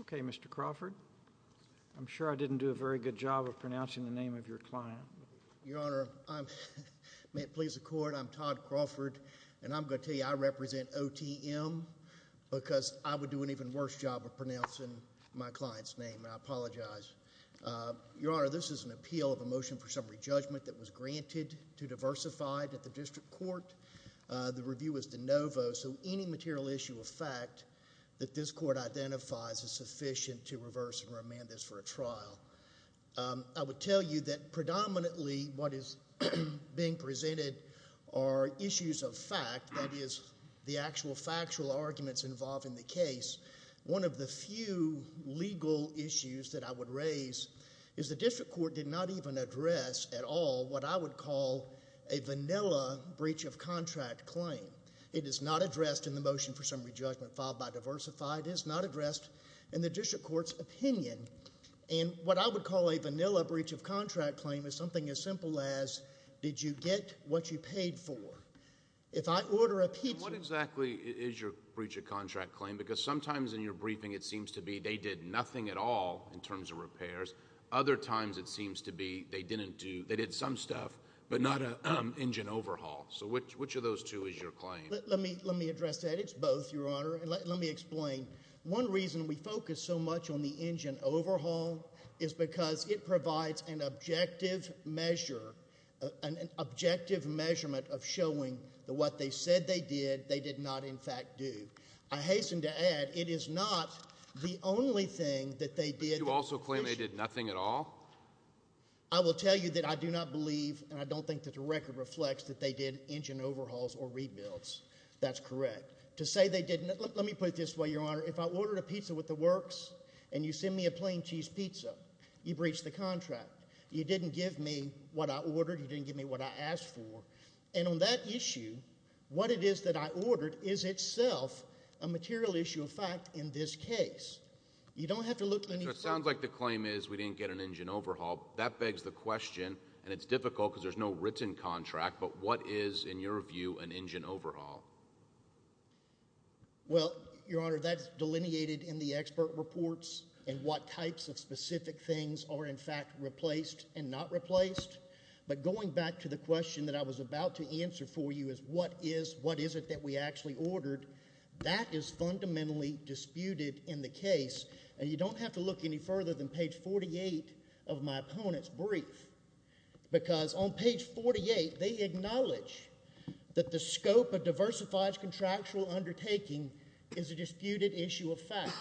OK, Mr. Crawford, I'm sure I didn't do a very good job of pronouncing the name of your client. Your Honor, may it please the Court, I'm Todd Crawford, and I'm going to tell you I represent OTM, because I would do an even worse job of pronouncing my client's name, and I apologize. Your Honor, this is an appeal of a motion for summary judgment that was granted to Diversified at the District Court. The review was de novo, so any material issue of fact that this Court identifies is sufficient to reverse and remand this for a trial. I would tell you that predominantly what is being presented are issues of fact, that is, the actual factual arguments involved in the case. One of the few legal issues that I would raise is the District Court did not even address at all what I would call a vanilla breach of contract claim. It is not addressed in the motion for summary judgment filed by Diversified. It is not addressed in the District Court's opinion. And what I would call a vanilla breach of contract claim is something as simple as, did you get what you paid for? What exactly is your breach of contract claim? Because sometimes in your briefing it seems to be they did nothing at all in terms of repairs. Other times it seems to be they did some stuff, but not an engine overhaul. So which of those two is your claim? Let me address that. It's both, Your Honor. Let me explain. One reason we focus so much on the engine overhaul is because it provides an objective measure, an objective measurement of showing that what they said they did, they did not in fact do. I hasten to add, it is not the only thing that they did. Did you also claim they did nothing at all? I will tell you that I do not believe, and I don't think that the record reflects, that they did engine overhauls or rebuilds. That's correct. Let me put it this way, Your Honor. If I ordered a pizza with the works and you send me a plain cheese pizza, you breach the contract. You didn't give me what I ordered. You didn't give me what I asked for. And on that issue, what it is that I ordered is itself a material issue of fact in this case. You don't have to look any further. So it sounds like the claim is we didn't get an engine overhaul. That begs the question, and it's difficult because there's no written contract, but what is, in your view, an engine overhaul? Well, Your Honor, that's delineated in the expert reports and what types of specific things are in fact replaced and not replaced. But going back to the question that I was about to answer for you is what is, what isn't that we actually ordered. That is fundamentally disputed in the case, and you don't have to look any further than page 48 of my opponent's brief. Because on page 48, they acknowledge that the scope of diversified contractual undertaking is a disputed issue of fact.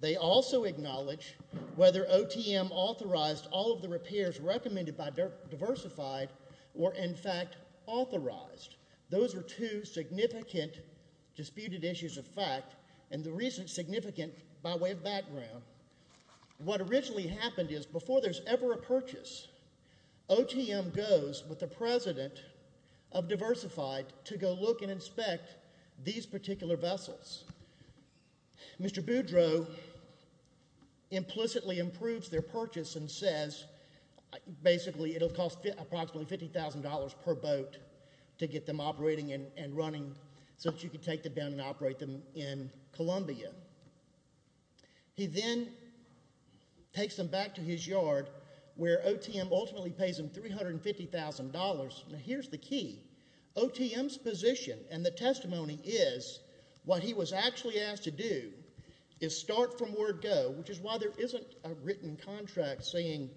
They also acknowledge whether OTM authorized all of the repairs recommended by Diversified were in fact authorized. Those are two significant disputed issues of fact, and the recent significant by way of background. What originally happened is before there's ever a purchase, OTM goes with the president of Diversified to go look and inspect these particular vessels. Mr. Boudreaux implicitly improves their purchase and says basically it'll cost approximately $50,000 per boat to get them operating and running so that you can take them down and operate them in Columbia. He then takes them back to his yard where OTM ultimately pays him $350,000. Now, here's the key. OTM's position and the testimony is what he was actually asked to do is start from where it go, which is why there isn't a written contract saying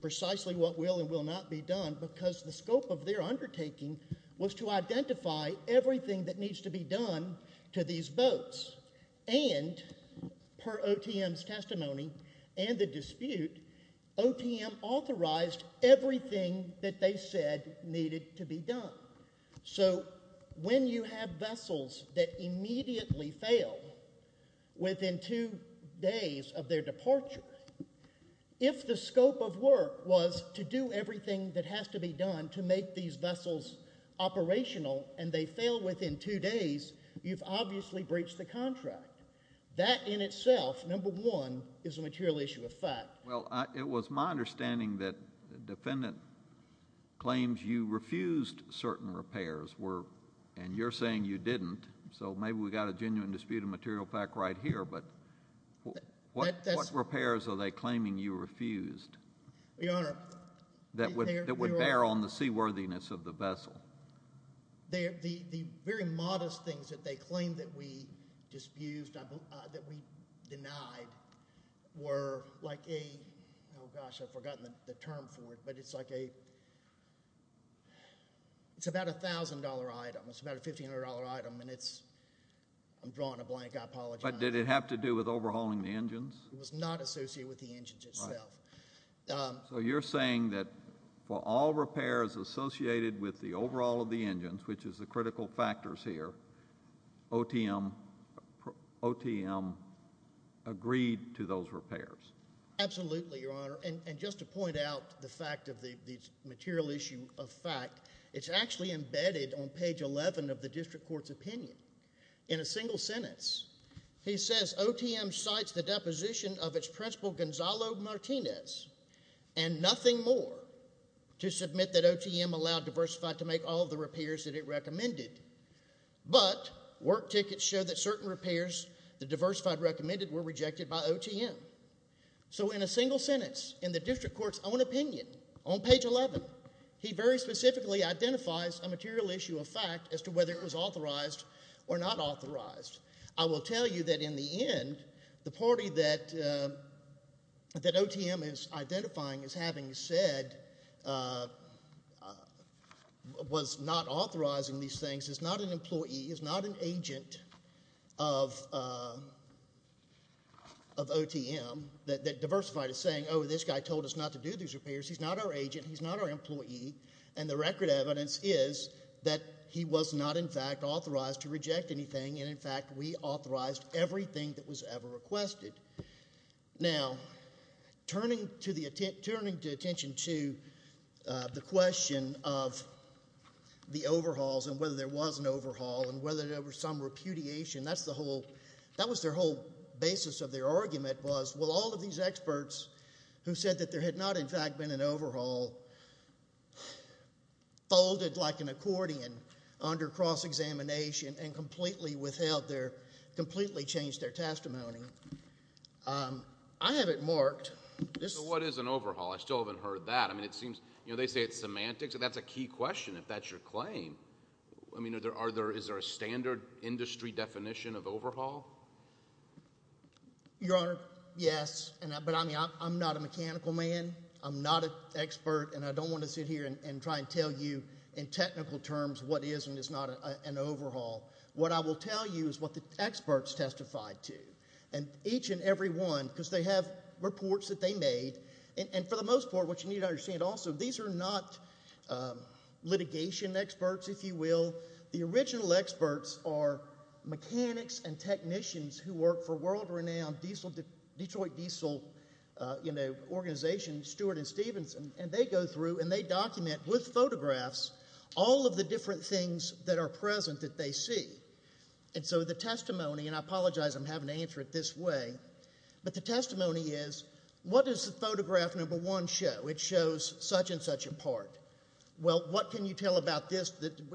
precisely what will and will not be done because the scope of their undertaking was to identify everything that needs to be done to these boats. And per OTM's testimony and the dispute, OTM authorized everything that they said needed to be done. So when you have vessels that immediately fail within two days of their departure, if the scope of work was to do everything that has to be done to make these vessels operational and they fail within two days, you've obviously breached the contract. That in itself, number one, is a material issue of fact. Well, it was my understanding that the defendant claims you refused certain repairs and you're saying you didn't, so maybe we've got a genuine dispute of material fact right here, but what repairs are they claiming you refused that would bear on the seaworthiness of the vessel? The very modest things that they claim that we disputed, that we denied, were like a, oh gosh, I've forgotten the term for it, but it's like a, it's about a $1,000 item. It's about a $1,500 item and it's, I'm drawing a blank, I apologize. But did it have to do with overhauling the engines? It was not associated with the engines itself. So you're saying that for all repairs associated with the overall of the engines, which is the critical factors here, OTM agreed to those repairs? Absolutely, Your Honor, and just to point out the fact of the material issue of fact, it's actually embedded on page 11 of the district court's opinion. In a single sentence, he says, OTM cites the deposition of its principal, Gonzalo Martinez, and nothing more, to submit that OTM allowed Diversified to make all the repairs that it recommended. But work tickets show that certain repairs that Diversified recommended were rejected by OTM. So in a single sentence, in the district court's own opinion, on page 11, he very specifically identifies a material issue of fact as to whether it was authorized or not authorized. I will tell you that in the end, the party that OTM is identifying as having said was not authorizing these things is not an employee, is not an agent of OTM, that Diversified is saying, oh, this guy told us not to do these repairs. He's not our agent, he's not our employee, and the record evidence is that he was not, in fact, authorized to reject anything, and in fact, we authorized everything that was ever requested. Now, turning to attention to the question of the overhauls and whether there was an overhaul and whether there was some repudiation, that was their whole basis of their argument was, well, all of these experts who said that there had not, in fact, been an overhaul, folded like an accordion under cross-examination and completely changed their testimony. I have it marked. What is an overhaul? I still haven't heard that. I mean, it seems, you know, they say it's semantics, and that's a key question if that's your claim. I mean, is there a standard industry definition of overhaul? Your Honor, yes, but I'm not a mechanical man. I'm not an expert, and I don't want to sit here and try and tell you in technical terms what is and is not an overhaul. What I will tell you is what the experts testified to, and each and every one, because they have reports that they made, and for the most part, what you need to understand also, these are not litigation experts, if you will. The original experts are mechanics and technicians who work for world-renowned Detroit Diesel, you know, organization, Stewart and Stephenson, and they go through and they document with photographs all of the different things that are present that they see. And so the testimony, and I apologize I'm having to answer it this way, but the testimony is what does the photograph number one show? It shows such and such a part. Well, what can you tell about this?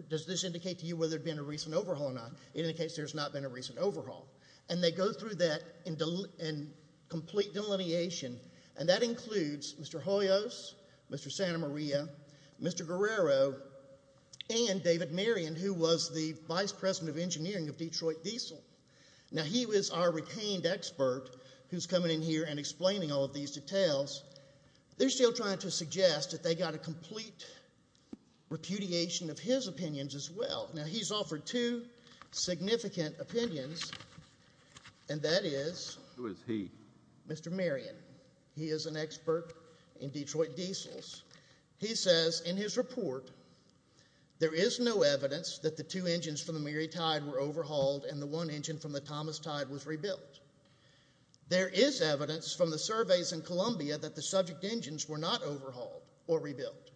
Does this indicate to you whether there's been a recent overhaul or not? It indicates there's not been a recent overhaul. And they go through that in complete delineation, and that includes Mr. Hoyos, Mr. Santamaria, Mr. Guerrero, and David Marion, who was the vice president of engineering of Detroit Diesel. Now, he was our retained expert who's coming in here and explaining all of these details. They're still trying to suggest that they got a complete repudiation of his opinions as well. Now, he's offered two significant opinions, and that is— Who is he? Mr. Marion. He is an expert in Detroit Diesels. He says in his report, there is no evidence that the two engines from the Mary Tide were overhauled and the one engine from the Thomas Tide was rebuilt. There is evidence from the surveys in Columbia that the subject engines were not overhauled or rebuilt.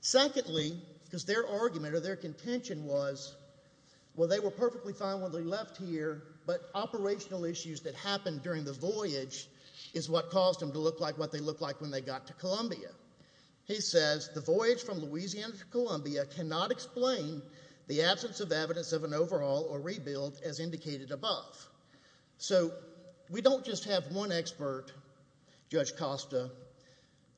Secondly, because their argument or their contention was, well, they were perfectly fine when they left here, but operational issues that happened during the voyage is what caused them to look like what they looked like when they got to Columbia. He says the voyage from Louisiana to Columbia cannot explain the absence of evidence of an overhaul or rebuild as indicated above. We don't just have one expert, Judge Costa,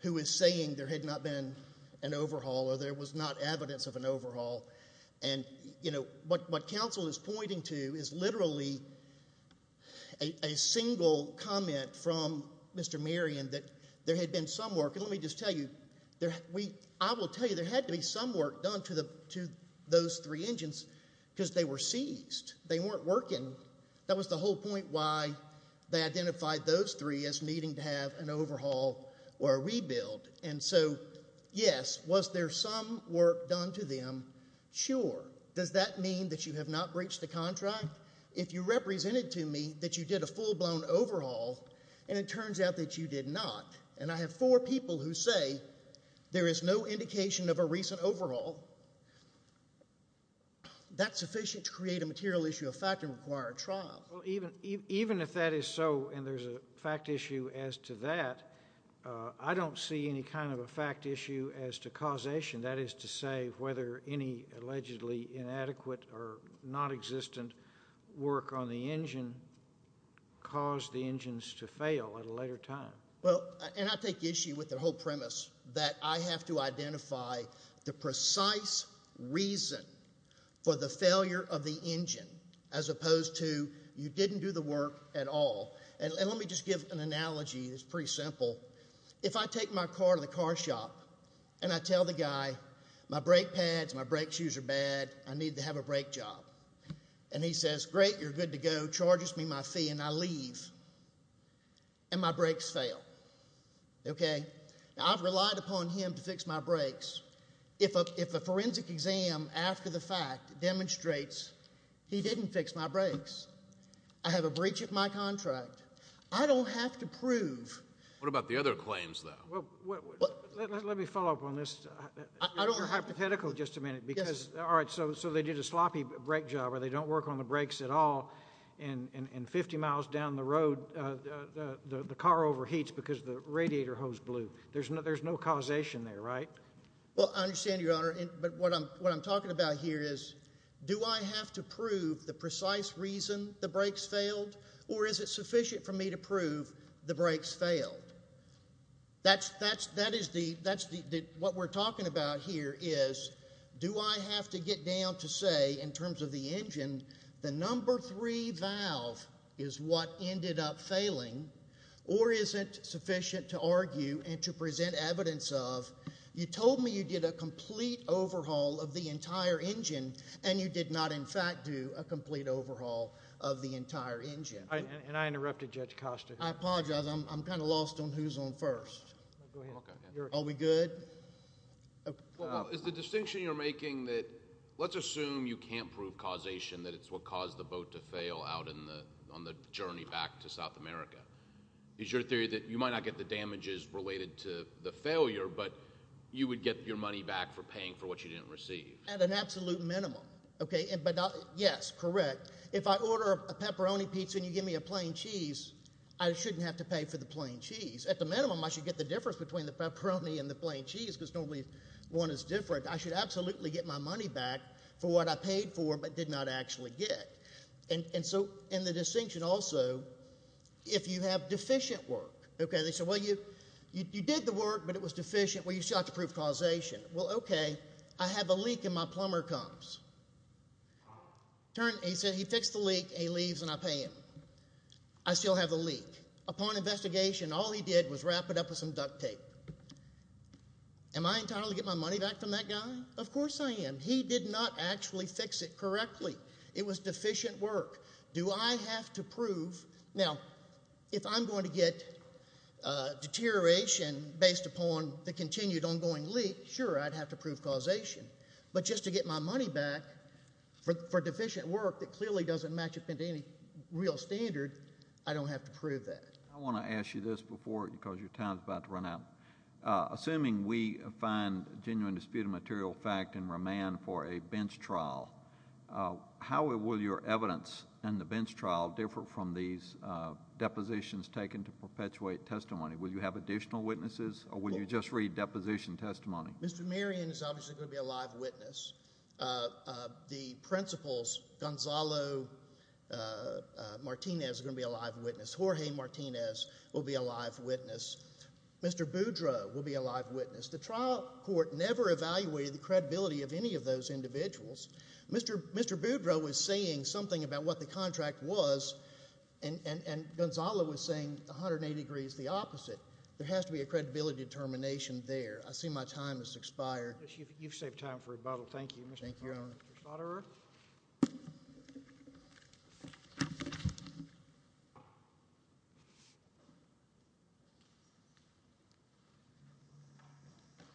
who is saying there had not been an overhaul or there was not evidence of an overhaul. What counsel is pointing to is literally a single comment from Mr. Marion that there had been some work. Let me just tell you, I will tell you there had to be some work done to those three engines because they were seized. They weren't working. That was the whole point why they identified those three as needing to have an overhaul or a rebuild. And so, yes, was there some work done to them? Sure. Does that mean that you have not breached the contract? If you represented to me that you did a full-blown overhaul and it turns out that you did not, and I have four people who say there is no indication of a recent overhaul, that is sufficient to create a material issue of fact and require a trial. Even if that is so and there is a fact issue as to that, I don't see any kind of a fact issue as to causation, that is to say whether any allegedly inadequate or nonexistent work on the engine caused the engines to fail at a later time. Well, and I take issue with the whole premise that I have to identify the precise reason for the failure of the engine as opposed to you didn't do the work at all. And let me just give an analogy that is pretty simple. If I take my car to the car shop and I tell the guy my brake pads, my brake shoes are bad, I need to have a brake job, and he says, great, you're good to go, charges me my fee, and I leave, and my brakes fail, okay? Now, I've relied upon him to fix my brakes. If a forensic exam after the fact demonstrates he didn't fix my brakes, I have a breach of my contract. I don't have to prove. What about the other claims, though? Let me follow up on this. You're hypothetical just a minute because, all right, so they did a sloppy brake job where they don't work on the brakes at all, and 50 miles down the road the car overheats because the radiator hose blew. There's no causation there, right? Well, I understand, Your Honor, but what I'm talking about here is do I have to prove the precise reason the brakes failed or is it sufficient for me to prove the brakes failed? What we're talking about here is do I have to get down to say in terms of the engine the number three valve is what ended up failing or is it sufficient to argue and to present evidence of you told me you did a complete overhaul of the entire engine and you did not, in fact, do a complete overhaul of the entire engine? And I interrupted Judge Costa. I apologize. I'm kind of lost on who's on first. Go ahead. Are we good? Well, it's the distinction you're making that let's assume you can't prove causation, that it's what caused the boat to fail out on the journey back to South America. It's your theory that you might not get the damages related to the failure, but you would get your money back for paying for what you didn't receive. At an absolute minimum, okay? Yes, correct. If I order a pepperoni pizza and you give me a plain cheese, I shouldn't have to pay for the plain cheese. At the minimum, I should get the difference between the pepperoni and the plain cheese because normally one is different. I should absolutely get my money back for what I paid for but did not actually get. And so in the distinction also, if you have deficient work, okay? They said, well, you did the work, but it was deficient. Well, you still have to prove causation. Well, okay. I have a leak and my plumber comes. He said he fixed the leak. He leaves and I pay him. I still have the leak. Upon investigation, all he did was wrap it up with some duct tape. Am I entitled to get my money back from that guy? Of course I am. He did not actually fix it correctly. It was deficient work. Do I have to prove? Now, if I'm going to get deterioration based upon the continued ongoing leak, sure, I'd have to prove causation. But just to get my money back for deficient work that clearly doesn't match up to any real standard, I don't have to prove that. I want to ask you this before because your time is about to run out. Assuming we find genuine disputed material fact and remand for a bench trial, how will your evidence in the bench trial differ from these depositions taken to perpetuate testimony? Will you have additional witnesses or will you just read deposition testimony? Mr. Marion is obviously going to be a live witness. The principals, Gonzalo Martinez is going to be a live witness. Jorge Martinez will be a live witness. Mr. Boudreau will be a live witness. The trial court never evaluated the credibility of any of those individuals. Mr. Boudreau was saying something about what the contract was, and Gonzalo was saying 180 degrees the opposite. There has to be a credibility determination there. I see my time has expired. You've saved time for rebuttal. Thank you. Thank you, Your Honor. Mr. Schlotterer.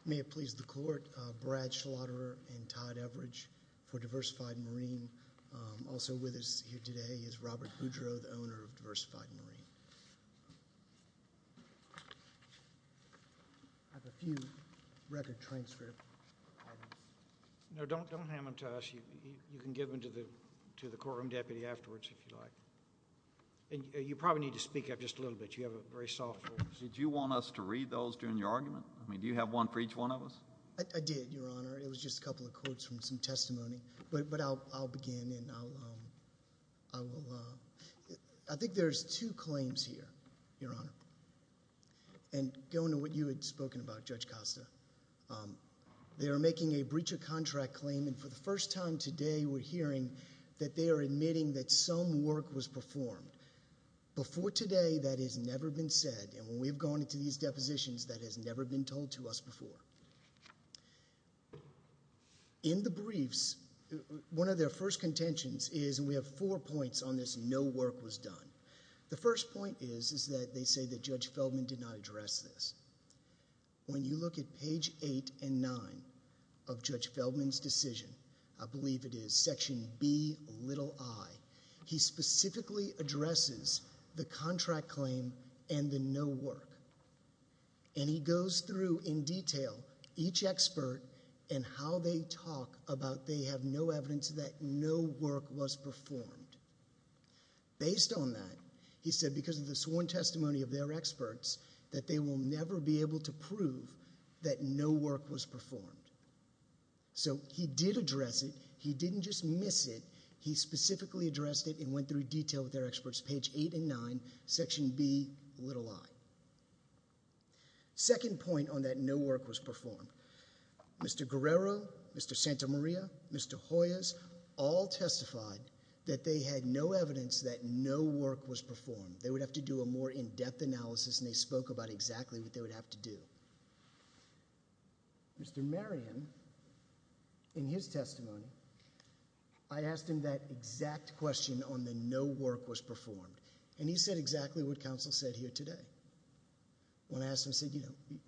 May it please the court, Brad Schlotterer and Todd Everidge for Diversified Marine. Also with us here today is Robert Boudreau, the owner of Diversified Marine. I have a few record transcripts. No, don't hand them to us. You can give them to the courtroom deputy afterwards if you like. You probably need to speak up just a little bit. You have a very soft voice. Did you want us to read those during your argument? Do you have one for each one of us? I did, Your Honor. It was just a couple of quotes from some testimony, but I'll begin. I think there's two claims here, Your Honor, and going to what you had spoken about, Judge Costa. They were making a breach of contract claim, and for the first time today, we're hearing that they are admitting that some work was performed. Before today, that has never been said, and when we've gone into these depositions, that has never been told to us before. In the briefs, one of their first contentions is, and we have four points on this, no work was done. The first point is that they say that Judge Feldman did not address this. When you look at page 8 and 9 of Judge Feldman's decision, I believe it is section B, little i, he specifically addresses the contract claim and the no work, and he goes through in detail each expert and how they talk about they have no evidence that no work was performed. Based on that, he said because of the sworn testimony of their experts, that they will never be able to prove that no work was performed. So he did address it. He didn't just miss it. He specifically addressed it and went through detail with their experts, page 8 and 9, section B, little i. Second point on that no work was performed. Mr. Guerrero, Mr. Santamaria, Mr. Hoyas all testified that they had no evidence that no work was performed. They would have to do a more in-depth analysis, and they spoke about exactly what they would have to do. Mr. Marion, in his testimony, I asked him that exact question on the no work was performed, and he said exactly what counsel said here today. When I asked him, I said, you know,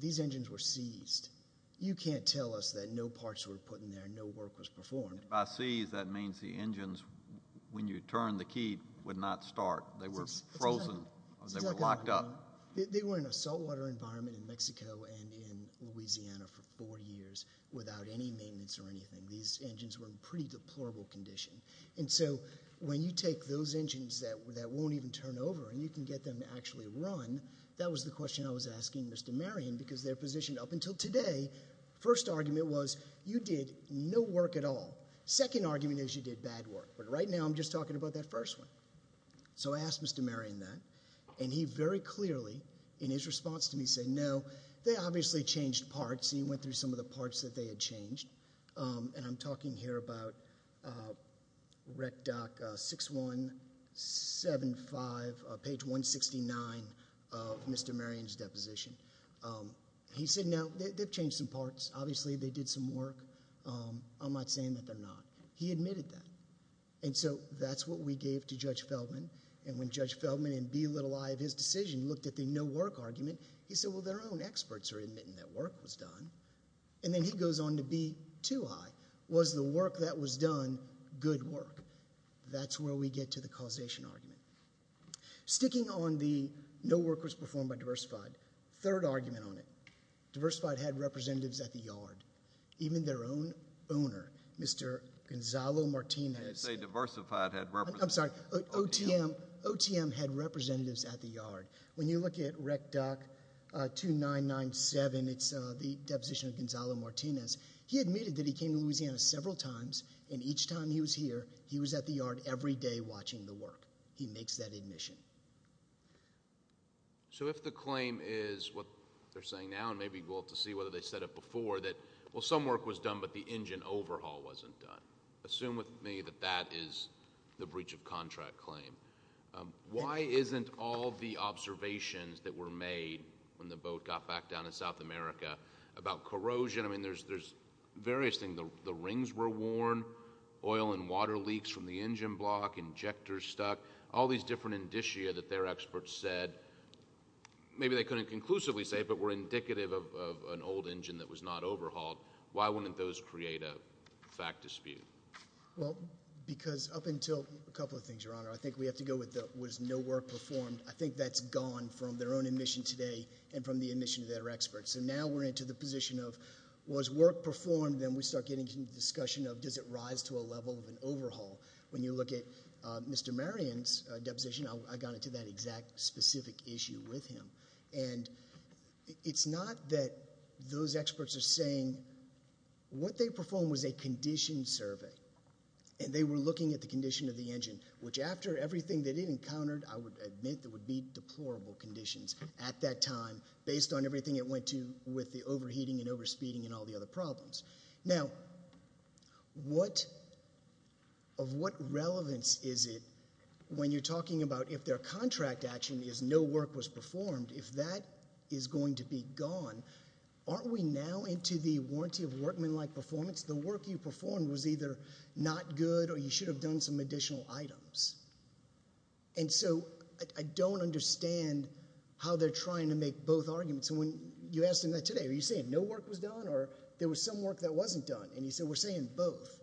these engines were seized. You can't tell us that no parts were put in there and no work was performed. By seized, that means the engines, when you turn the key, would not start. They were frozen. They were locked up. They were in a saltwater environment in Mexico and in Louisiana for four years without any maintenance or anything. These engines were in pretty deplorable condition. And so when you take those engines that won't even turn over and you can get them to actually run, that was the question I was asking Mr. Marion because their position up until today, first argument was you did no work at all. Second argument is you did bad work. But right now I'm just talking about that first one. So I asked Mr. Marion that, and he very clearly in his response to me said, no, they obviously changed parts. He went through some of the parts that they had changed, and I'm talking here about REC DOC 6175, page 169 of Mr. Marion's deposition. He said, no, they've changed some parts. Obviously they did some work. I'm not saying that they're not. He admitted that. And so that's what we gave to Judge Feldman. And when Judge Feldman in B-i of his decision looked at the no work argument, he said, well, their own experts are admitting that work was done. And then he goes on to B-i. Was the work that was done good work? That's where we get to the causation argument. Sticking on the no work was performed by Diversified, third argument on it. Diversified had representatives at the yard, even their own owner, Mr. Gonzalo Martinez. I'm sorry, OTM had representatives at the yard. When you look at REC DOC 2997, it's the deposition of Gonzalo Martinez, he admitted that he came to Louisiana several times, and each time he was here, he was at the yard every day watching the work. He makes that admission. So if the claim is what they're saying now, and maybe we'll have to see whether they said it before, that, well, some work was done, but the engine overhaul wasn't done. Assume with me that that is the breach of contract claim. Why isn't all the observations that were made when the boat got back down in South America about corrosion? I mean, there's various things. The rings were worn, oil and water leaks from the engine block, injectors stuck, all these different indicia that their experts said. Maybe they couldn't conclusively say it, but were indicative of an old engine that was not overhauled. Why wouldn't those create a fact dispute? Well, because up until a couple of things, Your Honor. I think we have to go with was no work performed. I think that's gone from their own admission today and from the admission of their experts. So now we're into the position of was work performed, then we start getting into the discussion of does it rise to a level of an overhaul. When you look at Mr. Marion's deposition, I got into that exact specific issue with him. And it's not that those experts are saying what they performed was a conditioned survey. And they were looking at the condition of the engine, which after everything that it encountered, I would admit that would be deplorable conditions at that time based on everything it went to with the overheating and overspeeding and all the other problems. Now, of what relevance is it when you're talking about if their contract action is no work was performed, if that is going to be gone, aren't we now into the warranty of workmanlike performance? The work you performed was either not good or you should have done some additional items. And so I don't understand how they're trying to make both arguments. And when you asked him that today, are you saying no work was done or there was some work that wasn't done? And he said we're saying both.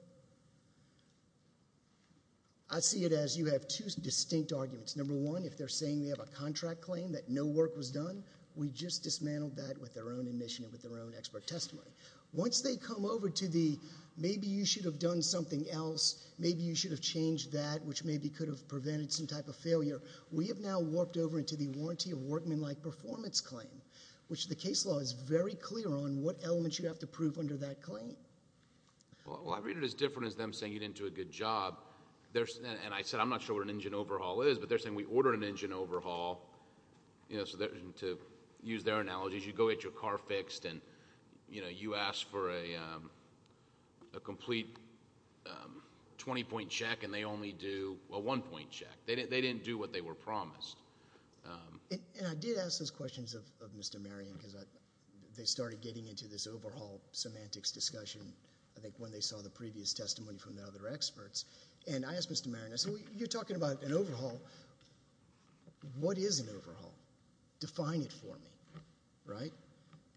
I see it as you have two distinct arguments. Number one, if they're saying they have a contract claim that no work was done, we just dismantled that with their own admission and with their own expert testimony. Once they come over to the maybe you should have done something else, maybe you should have changed that which maybe could have prevented some type of failure, we have now warped over into the warranty of workmanlike performance claim, which the case law is very clear on what elements you have to prove under that claim. Well, I read it as different as them saying you didn't do a good job. And I said I'm not sure what an engine overhaul is, but they're saying we ordered an engine overhaul. To use their analogies, you go get your car fixed and you ask for a complete twenty-point check and they only do a one-point check. They didn't do what they were promised. And I did ask those questions of Mr. Marion because they started getting into this overhaul semantics discussion, I think, when they saw the previous testimony from the other experts. And I asked Mr. Marion, I said, well, you're talking about an overhaul. What is an overhaul? Define it for me.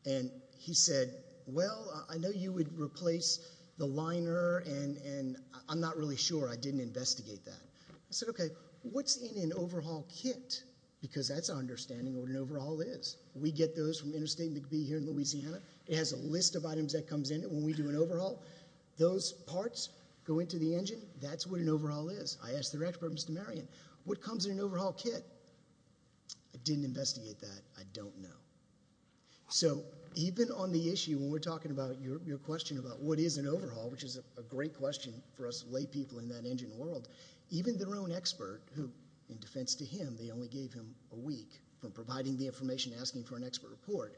And he said, well, I know you would replace the liner and I'm not really sure, I didn't investigate that. I said, okay, what's in an overhaul kit? Because that's our understanding of what an overhaul is. We get those from Interstate McBee here in Louisiana. It has a list of items that comes in when we do an overhaul. Those parts go into the engine. That's what an overhaul is. I asked their expert, Mr. Marion, what comes in an overhaul kit? I didn't investigate that. I don't know. So even on the issue when we're talking about your question about what is an overhaul, which is a great question for us lay people in that engine world, even their own expert, who, in defense to him, they only gave him a week for providing the information and asking for an expert report,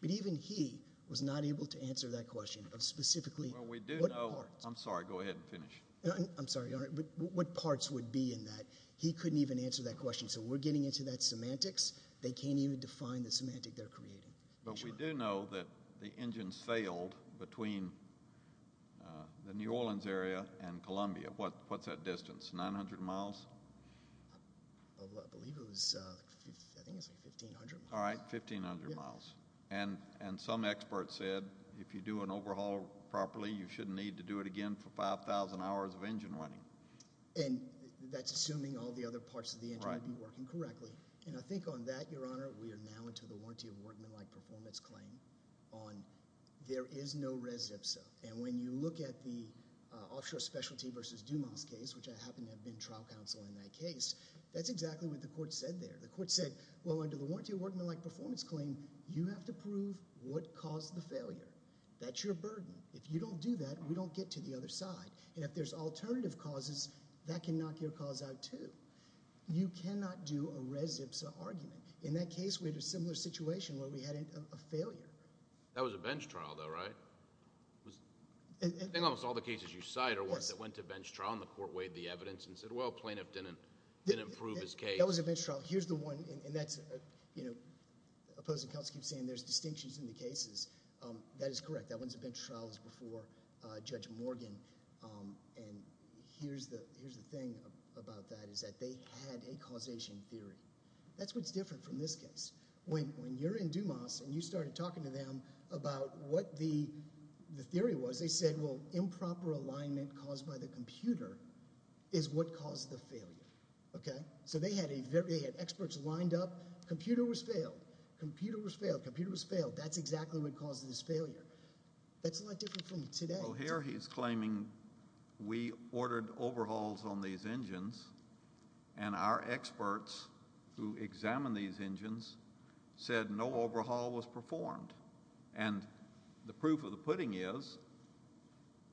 but even he was not able to answer that question of specifically what parts. I'm sorry, go ahead and finish. I'm sorry, but what parts would be in that? He couldn't even answer that question. So we're getting into that semantics. They can't even define the semantic they're creating. But we do know that the engine sailed between the New Orleans area and Columbia. What's that distance, 900 miles? I believe it was, I think it was 1,500 miles. All right, 1,500 miles. And some expert said if you do an overhaul properly, you shouldn't need to do it again for 5,000 hours of engine running. And that's assuming all the other parts of the engine would be working correctly. And I think on that, Your Honor, we are now into the warranty of workmanlike performance claim on there is no res ipsa. And when you look at the offshore specialty versus Dumas case, which I happen to have been trial counsel in that case, that's exactly what the court said there. The court said, well, under the warranty of workmanlike performance claim, you have to prove what caused the failure. That's your burden. If you don't do that, we don't get to the other side. And if there's alternative causes, that can knock your cause out too. You cannot do a res ipsa argument. In that case, we had a similar situation where we had a failure. That was a bench trial though, right? I think almost all the cases you cite are ones that went to bench trial and the court weighed the evidence and said, well, plaintiff didn't prove his case. That was a bench trial. Here's the one, and that's, you know, opposing counsel keeps saying there's distinctions in the cases. That is correct. That one's a bench trial. It was before Judge Morgan. And here's the thing about that is that they had a causation theory. That's what's different from this case. When you're in Dumas and you started talking to them about what the theory was, they said, well, improper alignment caused by the computer is what caused the failure. Okay? So they had experts lined up. Computer was failed. Computer was failed. Computer was failed. That's exactly what caused this failure. That's a lot different from today. Well, here he's claiming we ordered overhauls on these engines and our experts who examined these engines said no overhaul was performed. And the proof of the pudding is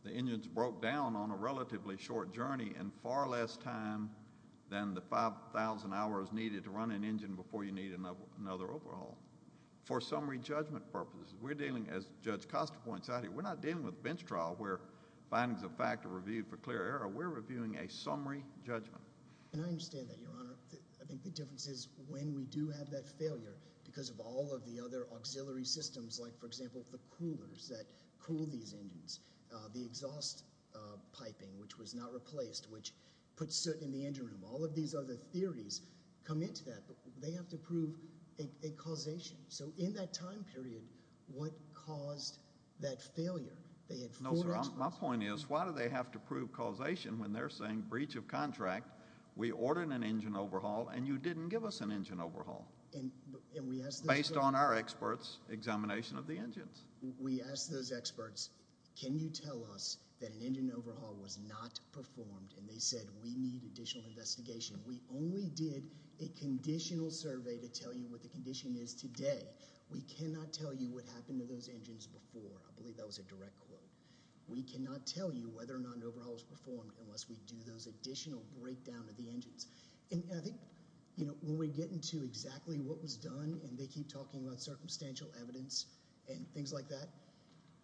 the engines broke down on a relatively short journey in far less time than the 5,000 hours needed to run an engine before you need another overhaul. For summary judgment purposes, we're dealing, as Judge Costa points out here, we're not dealing with bench trial where findings of fact are reviewed for clear error. We're reviewing a summary judgment. And I understand that, Your Honor. I think the difference is when we do have that failure, because of all of the other auxiliary systems like, for example, the coolers that cool these engines, the exhaust piping, which was not replaced, which puts soot in the engine room, all of these other theories come into that. They have to prove a causation. So in that time period, what caused that failure? No, sir. My point is why do they have to prove causation when they're saying breach of contract, we ordered an engine overhaul and you didn't give us an engine overhaul based on our experts' examination of the engines? We asked those experts, can you tell us that an engine overhaul was not performed? And they said, we need additional investigation. We only did a conditional survey to tell you what the condition is today. We cannot tell you what happened to those engines before. I believe that was a direct quote. We cannot tell you whether or not an overhaul was performed unless we do those additional breakdown of the engines. And I think when we get into exactly what was done, and they keep talking about circumstantial evidence and things like that,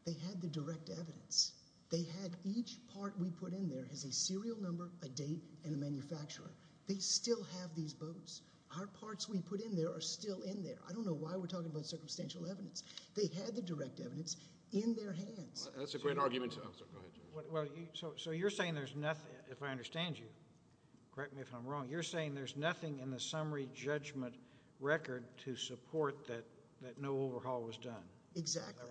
they had the direct evidence. They had each part we put in there as a serial number, a date, and a manufacturer. They still have these boats. Our parts we put in there are still in there. I don't know why we're talking about circumstantial evidence. They had the direct evidence in their hands. That's a great argument, too. So you're saying there's nothing, if I understand you, correct me if I'm wrong, you're saying there's nothing in the summary judgment record to support that no overhaul was done? Exactly.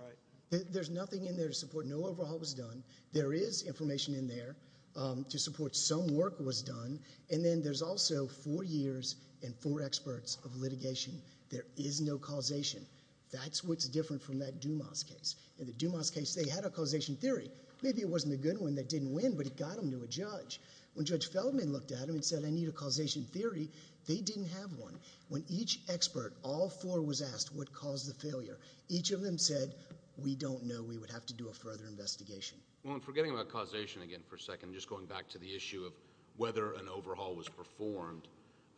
There's nothing in there to support no overhaul was done. There is information in there to support some work was done, and then there's also four years and four experts of litigation. There is no causation. That's what's different from that Dumas case. In the Dumas case, they had a causation theory. Maybe it wasn't a good one that didn't win, but it got them to a judge. When Judge Feldman looked at them and said, I need a causation theory, they didn't have one. When each expert, all four was asked, what caused the failure? Each of them said, we don't know. We would have to do a further investigation. Well, I'm forgetting about causation again for a second. I'm just going back to the issue of whether an overhaul was performed.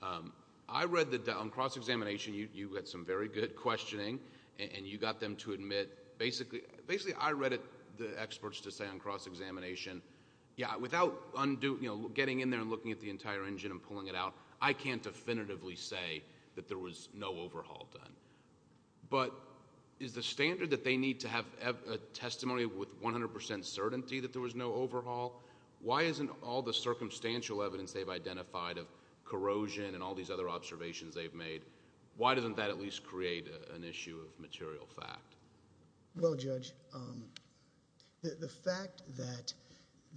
On cross-examination, you had some very good questioning, and you got them to admit... Basically, I read the experts to say on cross-examination, without getting in there and looking at the entire engine and pulling it out, I can't definitively say that there was no overhaul done. Is the standard that they need to have a testimony with 100% certainty that there was no overhaul? Why isn't all the circumstantial evidence they've identified of corrosion and all these other observations they've made, why doesn't that at least create an issue of material fact? Well, Judge, the fact that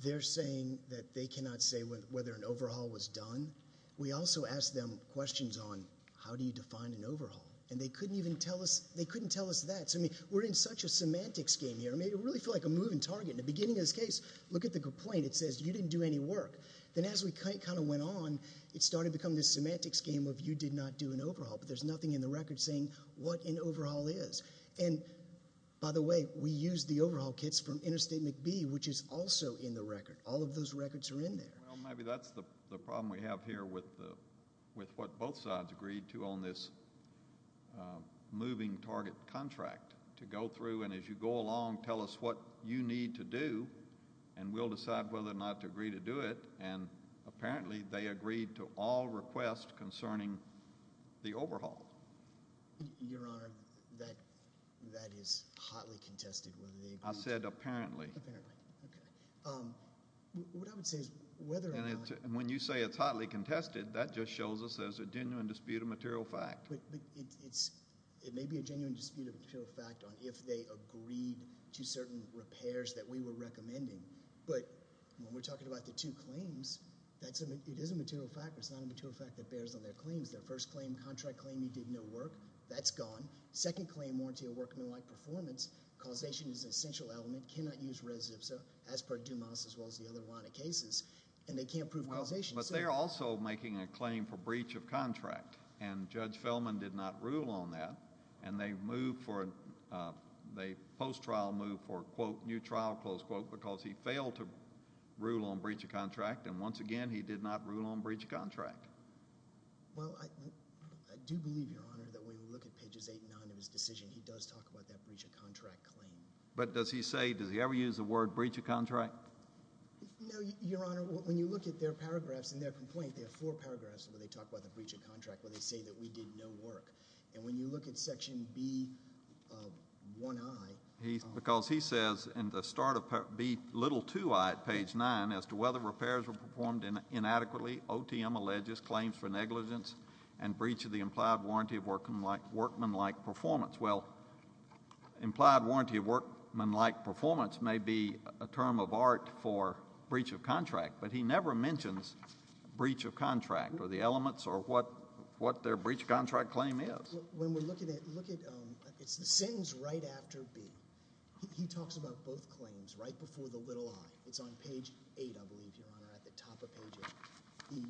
they're saying that they cannot say whether an overhaul was done... We also asked them questions on, how do you define an overhaul? And, they couldn't even tell us that. So, I mean, we're in such a semantics game here. I mean, it really felt like a moving target. In the beginning of this case, look at the complaint. It says, you didn't do any work. Then, as we kind of went on, it started to become this semantics game of you did not do an overhaul. But, there's nothing in the record saying what an overhaul is. And, by the way, we used the overhaul kits from Interstate McBee, which is also in the record. All of those records are in there. Well, maybe that's the problem we have here with what both sides agreed to on this moving target contract to go through. And, as you go along, tell us what you need to do, and we'll decide whether or not to agree to do it. And, apparently, they agreed to all requests concerning the overhaul. Your Honor, that is hotly contested whether they agreed to it. I said apparently. Apparently. Okay. What I would say is whether or not— And, when you say it's hotly contested, that just shows us there's a genuine dispute of material fact. But, it may be a genuine dispute of material fact on if they agreed to certain repairs that we were recommending. But, when we're talking about the two claims, it is a material fact, but it's not a material fact that bears on their claims. Their first claim, contract claim, he did no work. That's gone. Second claim, warranty of work no like performance. Causation is an essential element. Cannot use res ipsa as per Dumas, as well as the other line of cases. And, they can't prove causation. But, they're also making a claim for breach of contract. And, Judge Fellman did not rule on that. And, they post-trial moved for, quote, new trial, close quote, because he failed to rule on breach of contract. And, once again, he did not rule on breach of contract. Well, I do believe, Your Honor, that when you look at pages eight and nine of his decision, he does talk about that breach of contract claim. But, does he say, does he ever use the word breach of contract? No, Your Honor. When you look at their paragraphs in their complaint, they have four paragraphs where they talk about the breach of contract, where they say that we did no work. And, when you look at section B1i. Because he says in the start of B2i at page nine, as to whether repairs were performed inadequately, OTM alleges claims for negligence and breach of the implied warranty of workmanlike performance. Well, implied warranty of workmanlike performance may be a term of art for breach of contract. But, he never mentions breach of contract or the elements or what their breach of contract claim is. When we look at it, it's the sentence right after B. He talks about both claims right before the little i. It's on page eight, I believe, Your Honor, at the top of page eight.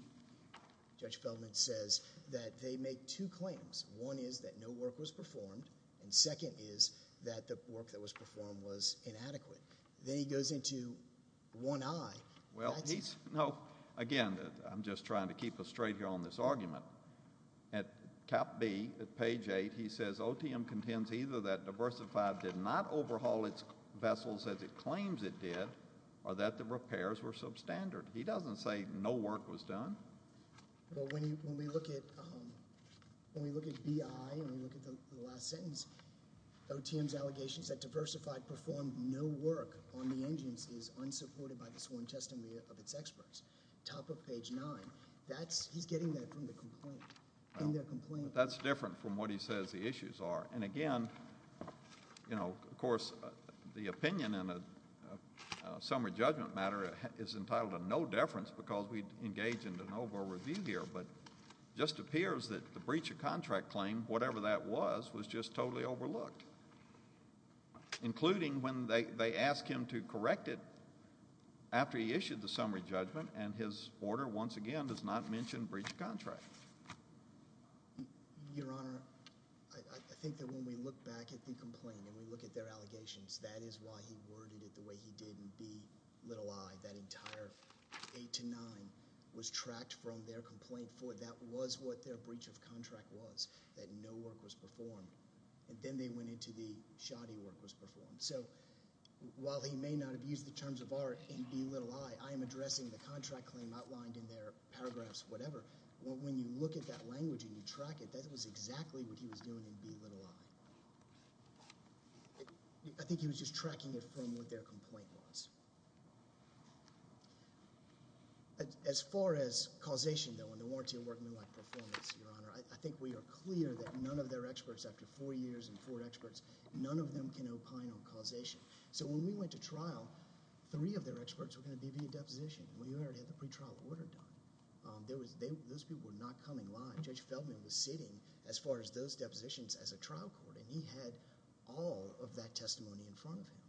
Judge Feldman says that they make two claims. One is that no work was performed. And, second is that the work that was performed was inadequate. Then, he goes into 1i. Again, I'm just trying to keep us straight here on this argument. At cap B, at page eight, he says, OTM contends either that Diversified did not overhaul its vessels as it claims it did, or that the repairs were substandard. He doesn't say no work was done. When we look at B.I. and we look at the last sentence, OTM's allegations that Diversified performed no work on the engines is unsupported by the sworn testimony of its experts. Top of page nine. He's getting that from the complaint. That's different from what he says the issues are. Again, of course, the opinion in a summary judgment matter is entitled to no deference because we engage in de novo review here. But it just appears that the breach of contract claim, whatever that was, was just totally overlooked, including when they ask him to correct it after he issued the summary judgment and his order, once again, does not mention breach of contract. Your Honor, I think that when we look back at the complaint and we look at their allegations, that is why he worded it the way he did in B.I. That entire eight to nine was tracked from their complaint. That was what their breach of contract was, that no work was performed. And then they went into the shoddy work was performed. So while he may not have used the terms of art in B.I., I am addressing the contract claim outlined in their paragraphs, whatever. When you look at that language and you track it, that was exactly what he was doing in B.I. I think he was just tracking it from what their complaint was. As far as causation, though, and the warranty of workmanlike performance, Your Honor, I think we are clear that none of their experts, after four years and four experts, none of them can opine on causation. So when we went to trial, three of their experts were going to be via deposition. We already had the pretrial order done. Those people were not coming live. Judge Feldman was sitting as far as those depositions as a trial court, and he had all of that testimony in front of him.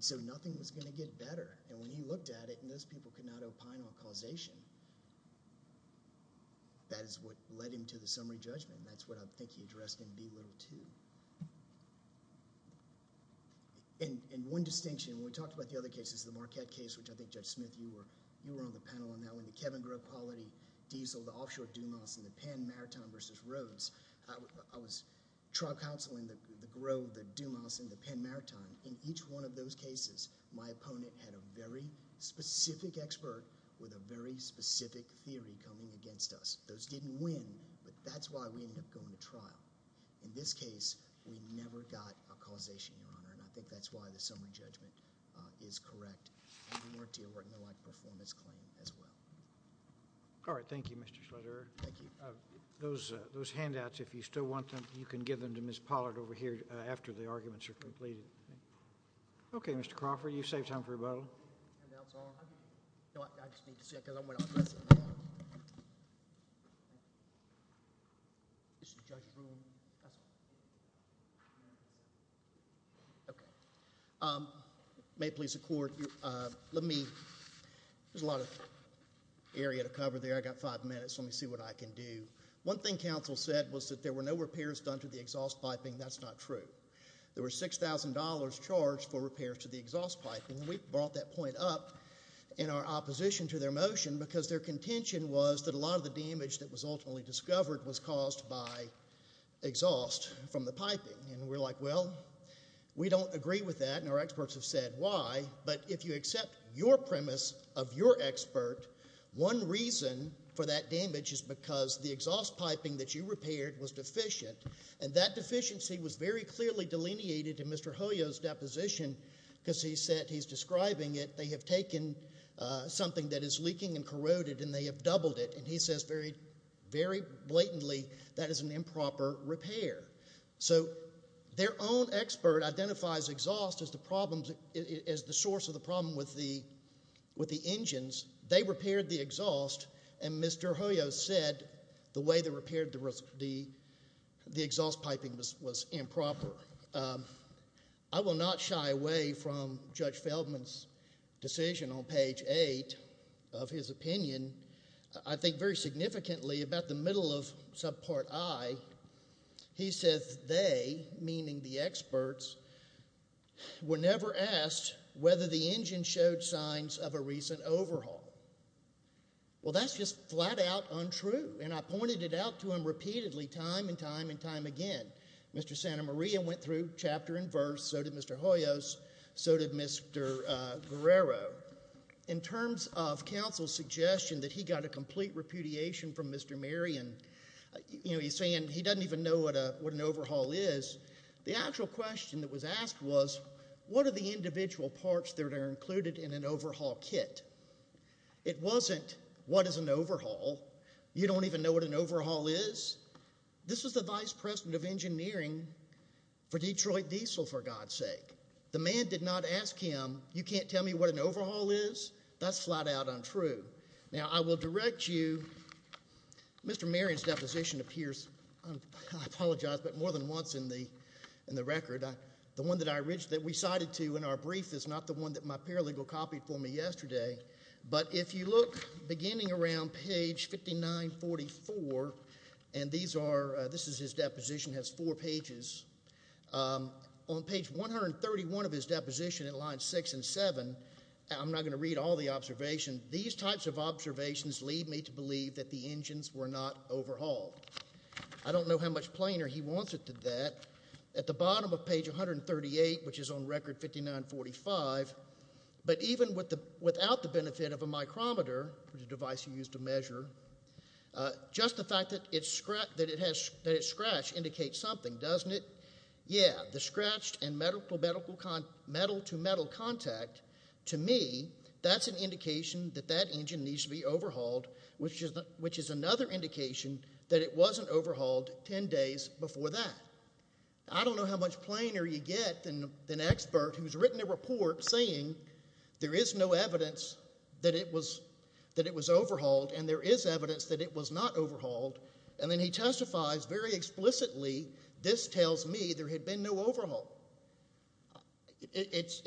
So nothing was going to get better. When he looked at it, and those people could not opine on causation, that is what led him to the summary judgment. That's what I think he addressed in B.I. too. One distinction, and we talked about the other cases, the Marquette case, which I think, Judge Smith, you were on the panel on that one, the Kevin Grove quality diesel, the offshore Dumas, and the Penn Maritime versus Rhodes. I was trial counseling the Grove, the Dumas, and the Penn Maritime. In each one of those cases, my opponent had a very specific expert with a very specific theory coming against us. Those didn't win, but that's why we ended up going to trial. In this case, we never got a causation, Your Honor, and I think that's why the summary judgment is correct. We weren't dealing with a performance claim as well. All right. Thank you, Mr. Schlatterer. Thank you. Those handouts, if you still want them, you can give them to Ms. Pollard over here after the arguments are completed. Okay, Mr. Crawford, you saved time for rebuttal. Handouts on? No, I just need to see it because I'm going to address it. This is the judge's room. May it please the Court, there's a lot of area to cover there. I've got five minutes, so let me see what I can do. One thing counsel said was that there were no repairs done to the exhaust piping. That's not true. There were $6,000 charged for repairs to the exhaust piping. We brought that point up in our opposition to their motion because their contention was that a lot of the damage that was ultimately discovered was caused by exhaust from the piping. We're like, well, we don't agree with that, and our experts have said why, but if you accept your premise of your expert, one reason for that damage is because the exhaust piping that you repaired was deficient, and that deficiency was very clearly delineated in Mr. Hoyos' deposition because he said he's describing it. They have taken something that is leaking and corroded, and they have doubled it, and he says very blatantly that is an improper repair. So their own expert identifies exhaust as the source of the problem with the engines. They repaired the exhaust, and Mr. Hoyos said the way they repaired the exhaust piping was improper. I will not shy away from Judge Feldman's decision on page 8 of his opinion. I think very significantly about the middle of subpart I, he says they, meaning the experts, were never asked whether the engine showed signs of a recent overhaul. Well, that's just flat-out untrue, and I pointed it out to him repeatedly time and time and time again. Mr. Santamaria went through chapter and verse, so did Mr. Hoyos, so did Mr. Guerrero. In terms of counsel's suggestion that he got a complete repudiation from Mr. Marion, he's saying he doesn't even know what an overhaul is, the actual question that was asked was what are the individual parts that are included in an overhaul kit? It wasn't what is an overhaul. You don't even know what an overhaul is? This was the vice president of engineering for Detroit Diesel, for God's sake. The man did not ask him, you can't tell me what an overhaul is? That's flat-out untrue. Now, I will direct you. Mr. Marion's deposition appears, I apologize, but more than once in the record. The one that we cited to in our brief is not the one that my paralegal copied for me yesterday, but if you look beginning around page 5944, and this is his deposition, it has four pages. On page 131 of his deposition in lines six and seven, I'm not going to read all the observation, these types of observations lead me to believe that the engines were not overhauled. I don't know how much plainer he wants it than that. At the bottom of page 138, which is on record 5945, but even without the benefit of a micrometer, which is a device you use to measure, just the fact that it's scratched indicates something, doesn't it? Yeah, the scratched and metal-to-metal contact, to me, that's an indication that that engine needs to be overhauled, which is another indication that it wasn't overhauled ten days before that. I don't know how much plainer you get than an expert who's written a report saying there is no evidence that it was overhauled and there is evidence that it was not overhauled, and then he testifies very explicitly, this tells me there had been no overhaul. It's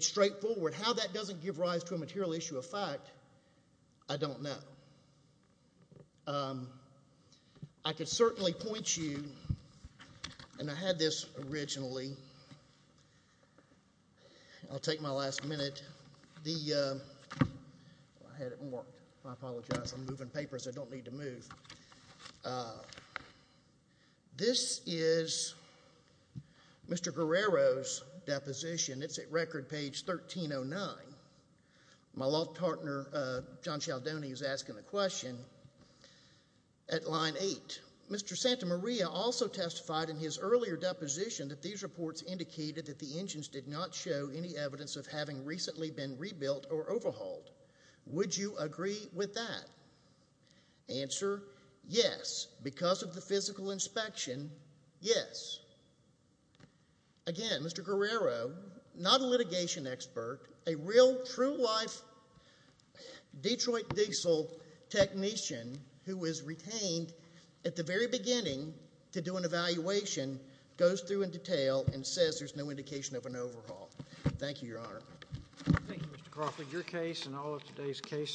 straightforward. How that doesn't give rise to a material issue of fact, I don't know. I could certainly point you, and I had this originally. I'll take my last minute. I had it marked. I apologize. I'm moving papers. I don't need to move. This is Mr. Guerrero's deposition. It's at record page 1309. My law partner, John Cialdoni, is asking the question at line 8. Mr. Santa Maria also testified in his earlier deposition that these reports indicated that the engines did not show any evidence of having recently been rebuilt or overhauled. Would you agree with that? Answer, yes. Because of the physical inspection, yes. Again, Mr. Guerrero, not a litigation expert, a real, true-life Detroit diesel technician who was retained at the very beginning to do an evaluation, goes through in detail and says there's no indication of an overhaul. Thank you, Your Honor. Thank you, Mr. Crawford. Your case and all of today's cases.